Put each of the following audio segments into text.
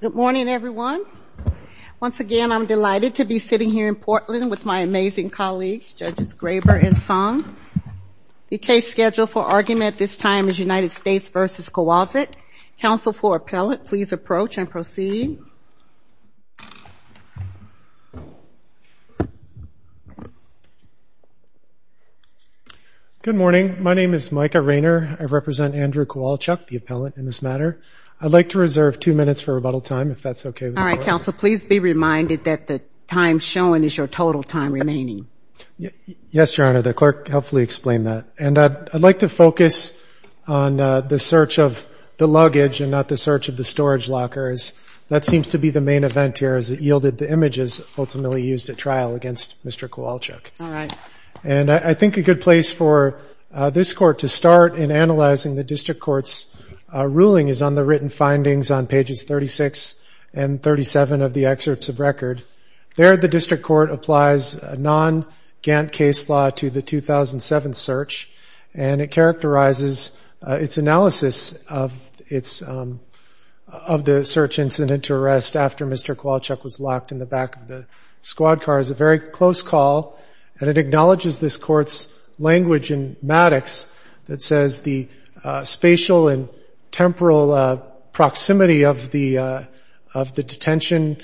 Good morning everyone. Once again I'm delighted to be sitting here in Portland with my amazing colleagues Judges Graber and Song. The case scheduled for argument at this time is United States v. Kowalczyk. Counsel for appellate please approach and proceed. Good morning. My name is Micah Rayner. I represent Andrew Kowalczyk, the appellate in this matter. I'd like to reserve two minutes for rebuttal time if that's okay with you. All right, counsel, please be reminded that the time shown is your total time remaining. Yes, Your Honor. The clerk helpfully explained that. And I'd like to focus on the search of the luggage and not the search of the storage lockers. That seems to be the main event here as it yielded the images ultimately used at trial against Mr. Kowalczyk. And I think a good place for this court to start in analyzing the district court's ruling is on the written findings on pages 36 and 37 of the excerpts of record. There the district court applies a non-Gantt case law to the 2007 search and it characterizes its analysis of the search incident to arrest after Mr. Kowalczyk was locked in the back of the squad car. It's a very close call and it acknowledges this court's language in Maddox that says the spatial and temporal proximity of the detention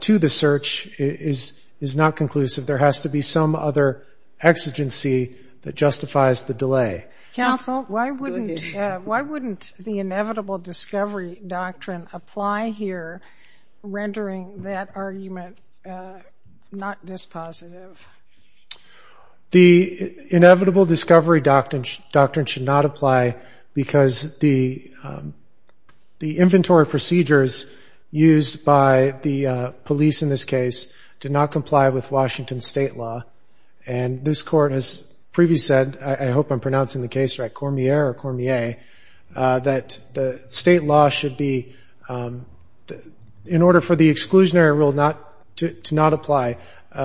to the search is not conclusive. There has to be some other exigency that justifies the delay. Counsel, why wouldn't the inevitable discovery doctrine apply here, rendering that argument not dispositive? The inevitable discovery doctrine should not apply because the inventory procedures used by the police in this case did not comply with Washington state law. And this court has previously said, I hope I'm pronouncing the case right, Cormier or Cormier, that the state law should be, in order for the exclusionary rule to not apply,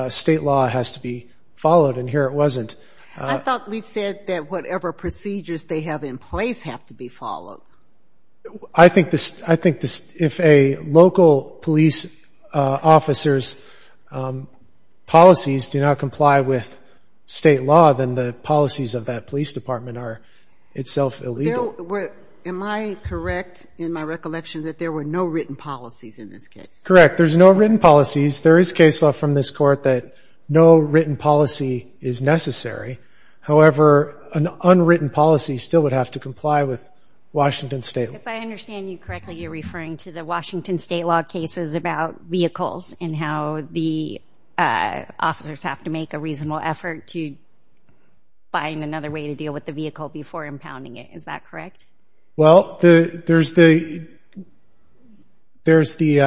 state law has to be followed and here it wasn't. I thought we said that whatever procedures they have in place have to be followed. I think if a local police officer's policies do not comply with state law, then the policies of that police department are itself illegal. Am I correct in my recollection that there were no written policies in this case? Correct. There's no written policies. There is case law from this court that no written policy is necessary. However, an unwritten policy still would have to comply with Washington state law. If I understand you correctly, you're referring to the Washington state law cases about vehicles and how the officers have to make a reasonable effort to find another way to deal with the vehicle before impounding it. Is that correct? Well, there's the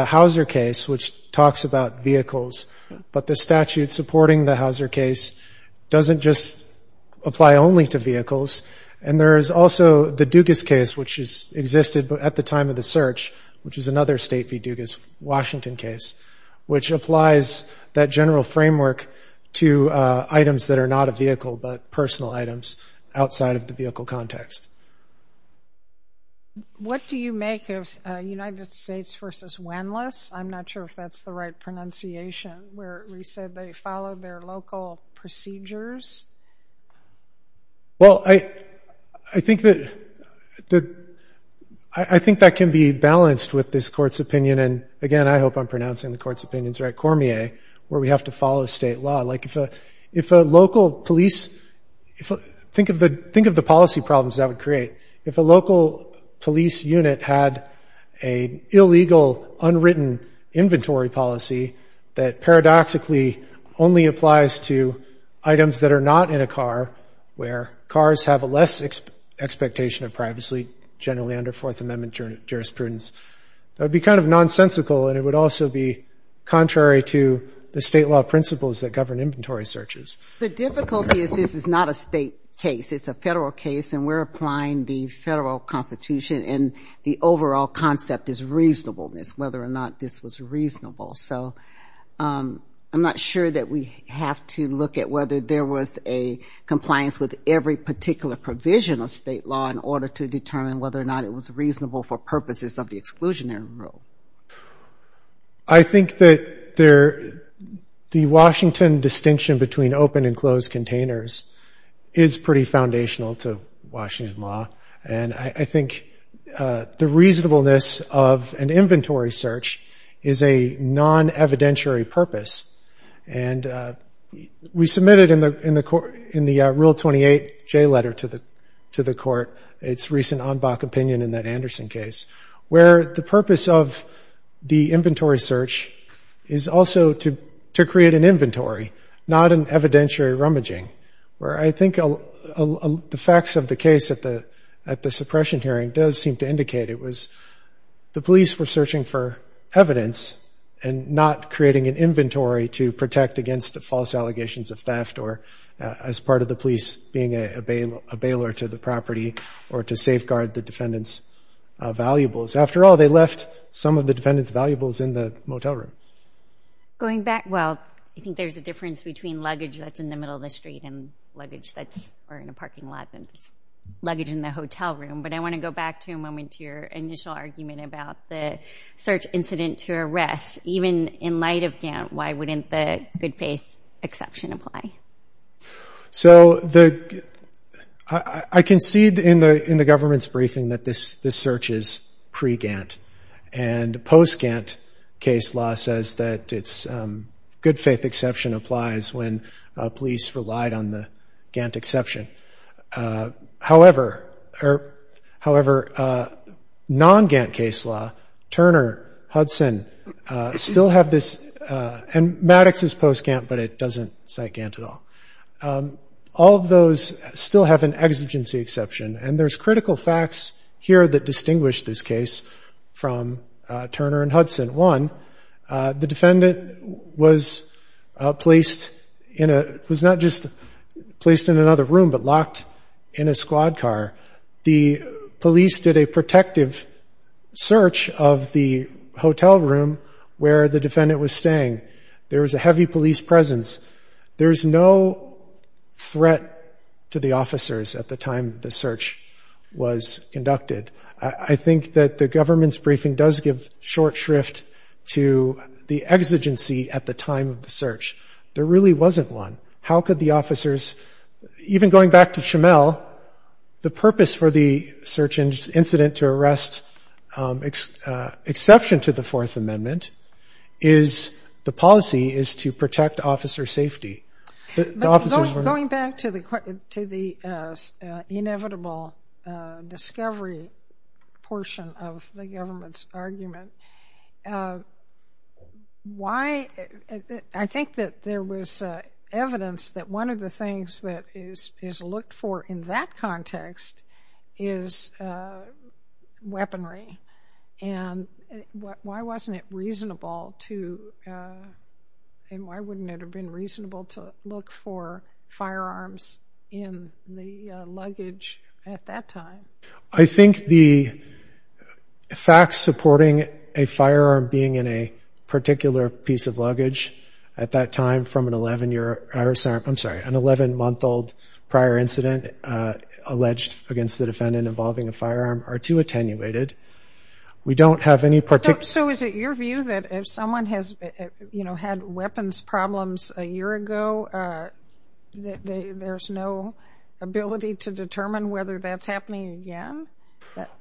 Houser case, which talks about vehicles, but the statute supporting the Houser case doesn't just apply only to vehicles. And there's also the Dugas case, which existed at the time of the search, which is another state v. Dugas, Washington case, which applies that general framework to items that are not a vehicle but personal items outside of the vehicle context. What do you make of United States v. Wenlis? I'm not sure if that's the right pronunciation where we said they followed their local procedures. Well, I think that can be balanced with this court's opinion. And, again, I hope I'm pronouncing the court's opinions right, Cormier, where we have to follow state law. Think of the policy problems that would create. If a local police unit had an illegal, unwritten inventory policy that paradoxically only applies to items that are not in a car, where cars have a less expectation of privacy, generally under Fourth Amendment jurisprudence, that would be kind of nonsensical, and it would also be contrary to the state law principles that govern inventory searches. The difficulty is this is not a state case. It's a federal case, and we're applying the federal Constitution, and the overall concept is reasonableness, whether or not this was reasonable. So I'm not sure that we have to look at whether there was a compliance with every particular provision of state law in order to determine whether or not it was reasonable for purposes of the exclusionary rule. I think that the Washington distinction between open and closed containers is pretty foundational to Washington law, and I think the reasonableness of an inventory search is a non-evidentiary purpose. And we submitted in the Rule 28J letter to the court its recent en bas opinion in that Anderson case, where the purpose of the inventory search is also to create an inventory, not an evidentiary rummaging, where I think the facts of the case at the suppression hearing does seem to indicate it was the police were searching for evidence and not creating an inventory to protect against the false allegations of theft or as part of the police being a bailer to the property or to safeguard the defendant's valuables. After all, they left some of the defendant's valuables in the motel room. Going back, well, I think there's a difference between luggage that's in the middle of the street and luggage that's in a parking lot than luggage in the hotel room, but I want to go back to a moment to your initial argument about the search incident to arrest. Even in light of Gantt, why wouldn't the good-faith exception apply? So I concede in the government's briefing that this search is pre-Gantt, and post-Gantt case law says that its good-faith exception applies when police relied on the Gantt exception. However, non-Gantt case law, Turner, Hudson still have this, and Maddox is post-Gantt, but it doesn't cite Gantt at all. All of those still have an exigency exception, and there's critical facts here that distinguish this case from Turner and Hudson. The defendant was not just placed in another room but locked in a squad car. The police did a protective search of the hotel room where the defendant was staying. There was a heavy police presence. There was no threat to the officers at the time the search was conducted. I think that the government's briefing does give short shrift to the exigency at the time of the search. There really wasn't one. How could the officers, even going back to Schimel, the purpose for the search incident to arrest exception to the Fourth Amendment is the policy is to protect officer safety. Going back to the inevitable discovery portion of the government's argument, I think that there was evidence that one of the things that is looked for in that context is weaponry, and why wouldn't it have been reasonable to look for firearms in the luggage at that time? I think the facts supporting a firearm being in a particular piece of luggage at that time from an 11-month-old prior incident alleged against the defendant involving a firearm are too attenuated. We don't have any particular- So is it your view that if someone has had weapons problems a year ago, there's no ability to determine whether that's happening again?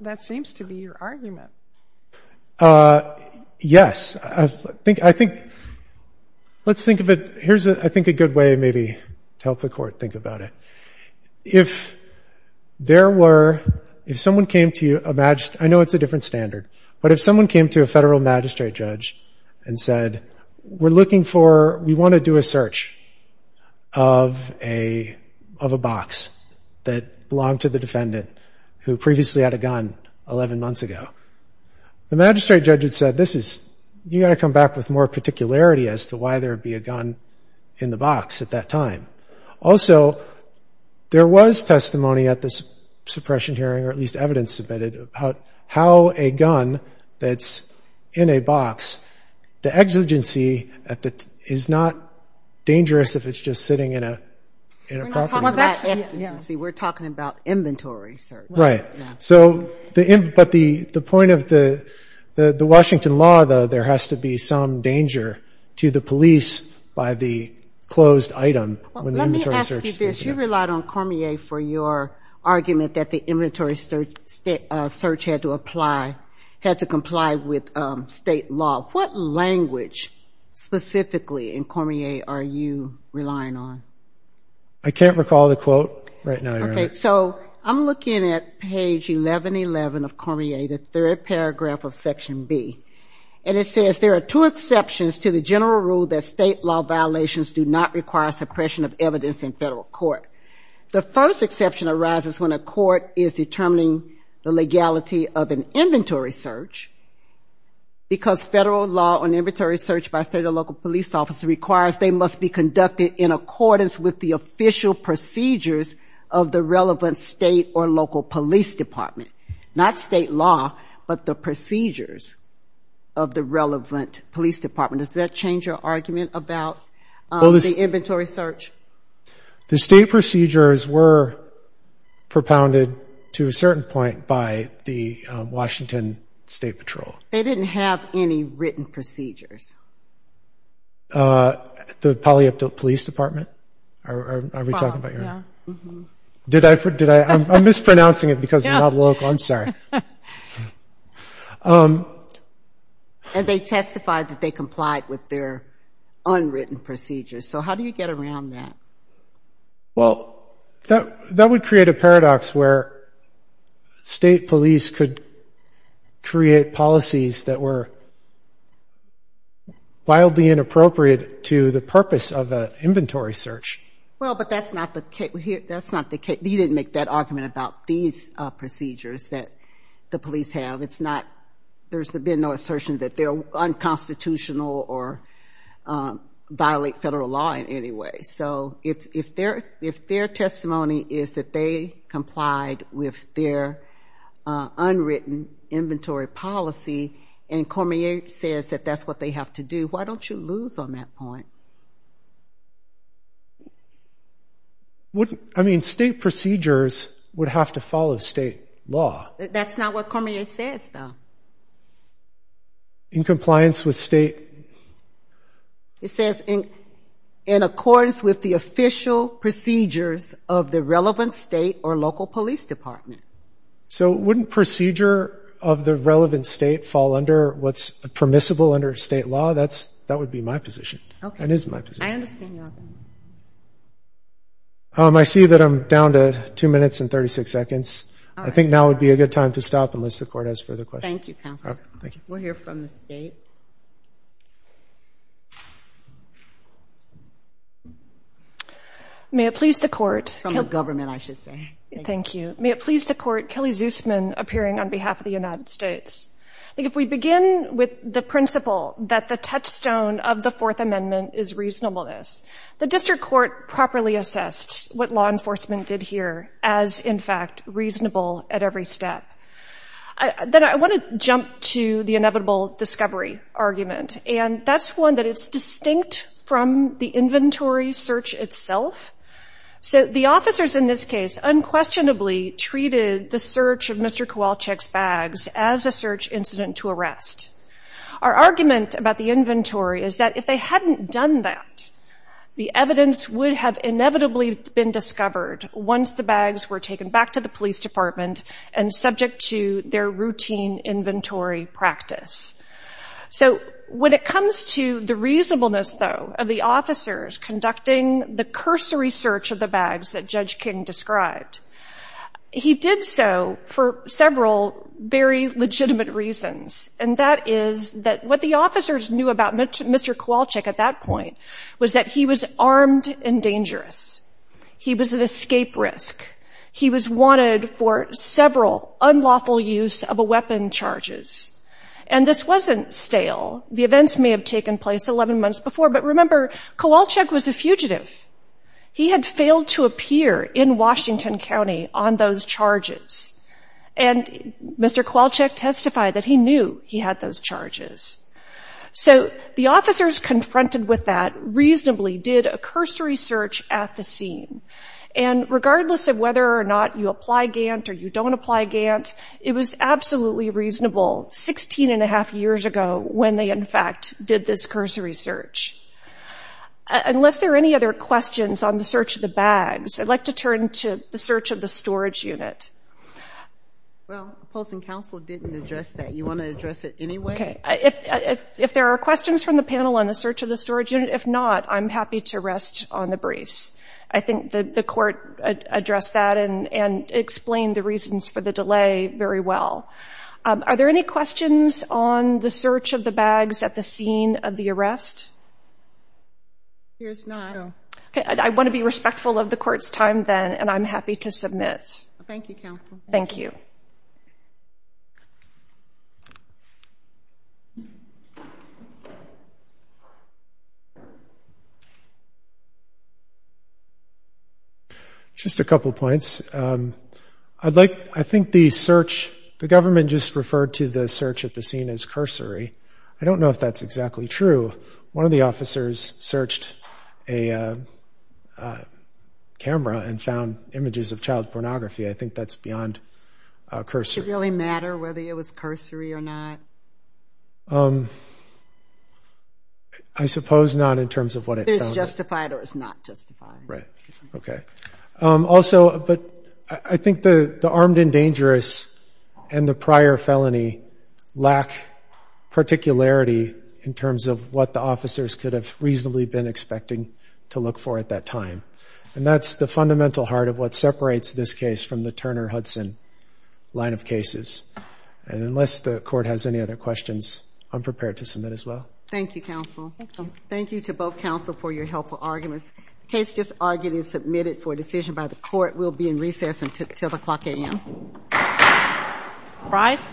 That seems to be your argument. Yes. I think let's think of it. Here's, I think, a good way maybe to help the court think about it. If there were, if someone came to you, I know it's a different standard, but if someone came to a federal magistrate judge and said, we're looking for, we want to do a search of a box that belonged to the defendant who previously had a gun 11 months ago, the magistrate judge had said, this is, you've got to come back with more particularity as to why there would be a gun in the box at that time. Also, there was testimony at the suppression hearing, or at least evidence submitted, about how a gun that's in a box, the exigency is not dangerous if it's just sitting in a property. We're not talking about exigency. We're talking about inventory search. Right. So, but the point of the Washington law, though, there has to be some danger to the police by the closed item when the inventory search- Let me ask you this. You relied on Cormier for your argument that the inventory search had to apply, had to comply with state law. What language specifically in Cormier are you relying on? I can't recall the quote right now, Your Honor. Okay. So I'm looking at page 1111 of Cormier, the third paragraph of Section B, and it says, there are two exceptions to the general rule that state law violations do not require suppression of evidence in federal court. The first exception arises when a court is determining the legality of an inventory search, because federal law on inventory search by state or local police officer requires they must be conducted in accordance with the official procedures of the relevant state or local police department. Not state law, but the procedures of the relevant police department. Does that change your argument about the inventory search? The state procedures were propounded to a certain point by the Washington State Patrol. They didn't have any written procedures. The Paliupto Police Department, are we talking about, Your Honor? Yeah. I'm mispronouncing it because I'm not local. I'm sorry. And they testified that they complied with their unwritten procedures. So how do you get around that? Well, that would create a paradox where state police could create policies that were wildly inappropriate to the purpose of an inventory search. Well, but that's not the case. You didn't make that argument about these procedures that the police have. There's been no assertion that they're unconstitutional or violate federal law in any way. So if their testimony is that they complied with their unwritten inventory policy, and Cormier says that that's what they have to do, why don't you lose on that point? I mean, state procedures would have to follow state law. That's not what Cormier says, though. In compliance with state? It says in accordance with the official procedures of the relevant state or local police department. So wouldn't procedure of the relevant state fall under what's permissible under state law? That would be my position. Okay. I understand your opinion. I see that I'm down to two minutes and 36 seconds. I think now would be a good time to stop unless the court has further questions. Thank you, counsel. We'll hear from the state. From the government, I should say. Thank you. Thank you. I think if we begin with the principle that the touchstone of the Fourth Amendment is reasonableness, the district court properly assessed what law enforcement did here as, in fact, reasonable at every step. Then I want to jump to the inevitable discovery argument, and that's one that is distinct from the inventory search itself. The officers in this case unquestionably treated the search of Mr. Kowalczyk's bags as a search incident to arrest. Our argument about the inventory is that if they hadn't done that, the evidence would have inevitably been discovered once the bags were taken back to the police department and subject to their routine inventory practice. So when it comes to the reasonableness, though, of the officers conducting the cursory search of the bags that Judge King described, he did so for several very legitimate reasons, and that is that what the officers knew about Mr. Kowalczyk at that point was that he was armed and dangerous. He was an escape risk. He was wanted for several unlawful use of a weapon charges, and this wasn't stale. The events may have taken place 11 months before, but remember, Kowalczyk was a fugitive. He had failed to appear in Washington County on those charges, and Mr. Kowalczyk testified that he knew he had those charges. So the officers confronted with that reasonably did a cursory search at the scene, and regardless of whether or not you apply Gant or you don't apply Gant, it was absolutely reasonable 16 1⁄2 years ago when they, in fact, did this cursory search. Unless there are any other questions on the search of the bags, I'd like to turn to the search of the storage unit. Well, opposing counsel didn't address that. You want to address it anyway? Okay. If there are questions from the panel on the search of the storage unit, if not, I'm happy to rest on the briefs. I think the court addressed that and explained the reasons for the delay very well. Are there any questions on the search of the bags at the scene of the arrest? There's none. Okay. I want to be respectful of the court's time then, and I'm happy to submit. Thank you, counsel. Thank you. Just a couple points. I think the government just referred to the search at the scene as cursory. I don't know if that's exactly true. One of the officers searched a camera and found images of child pornography. I think that's beyond cursory. Does it really matter whether it was cursory or not? I suppose not in terms of what it found. Whether it's justified or it's not justified. Right. Okay. Also, I think the armed and dangerous and the prior felony lack particularity in terms of what the officers could have reasonably been expecting to look for at that time. And that's the fundamental heart of what separates this case from the Turner-Hudson line of cases. And unless the court has any other questions, I'm prepared to submit as well. Thank you, counsel. Thank you. Thank you to both counsel for your helpful arguments. In case this argument is submitted for a decision by the court, we'll be in recess until the clock a.m. Rise.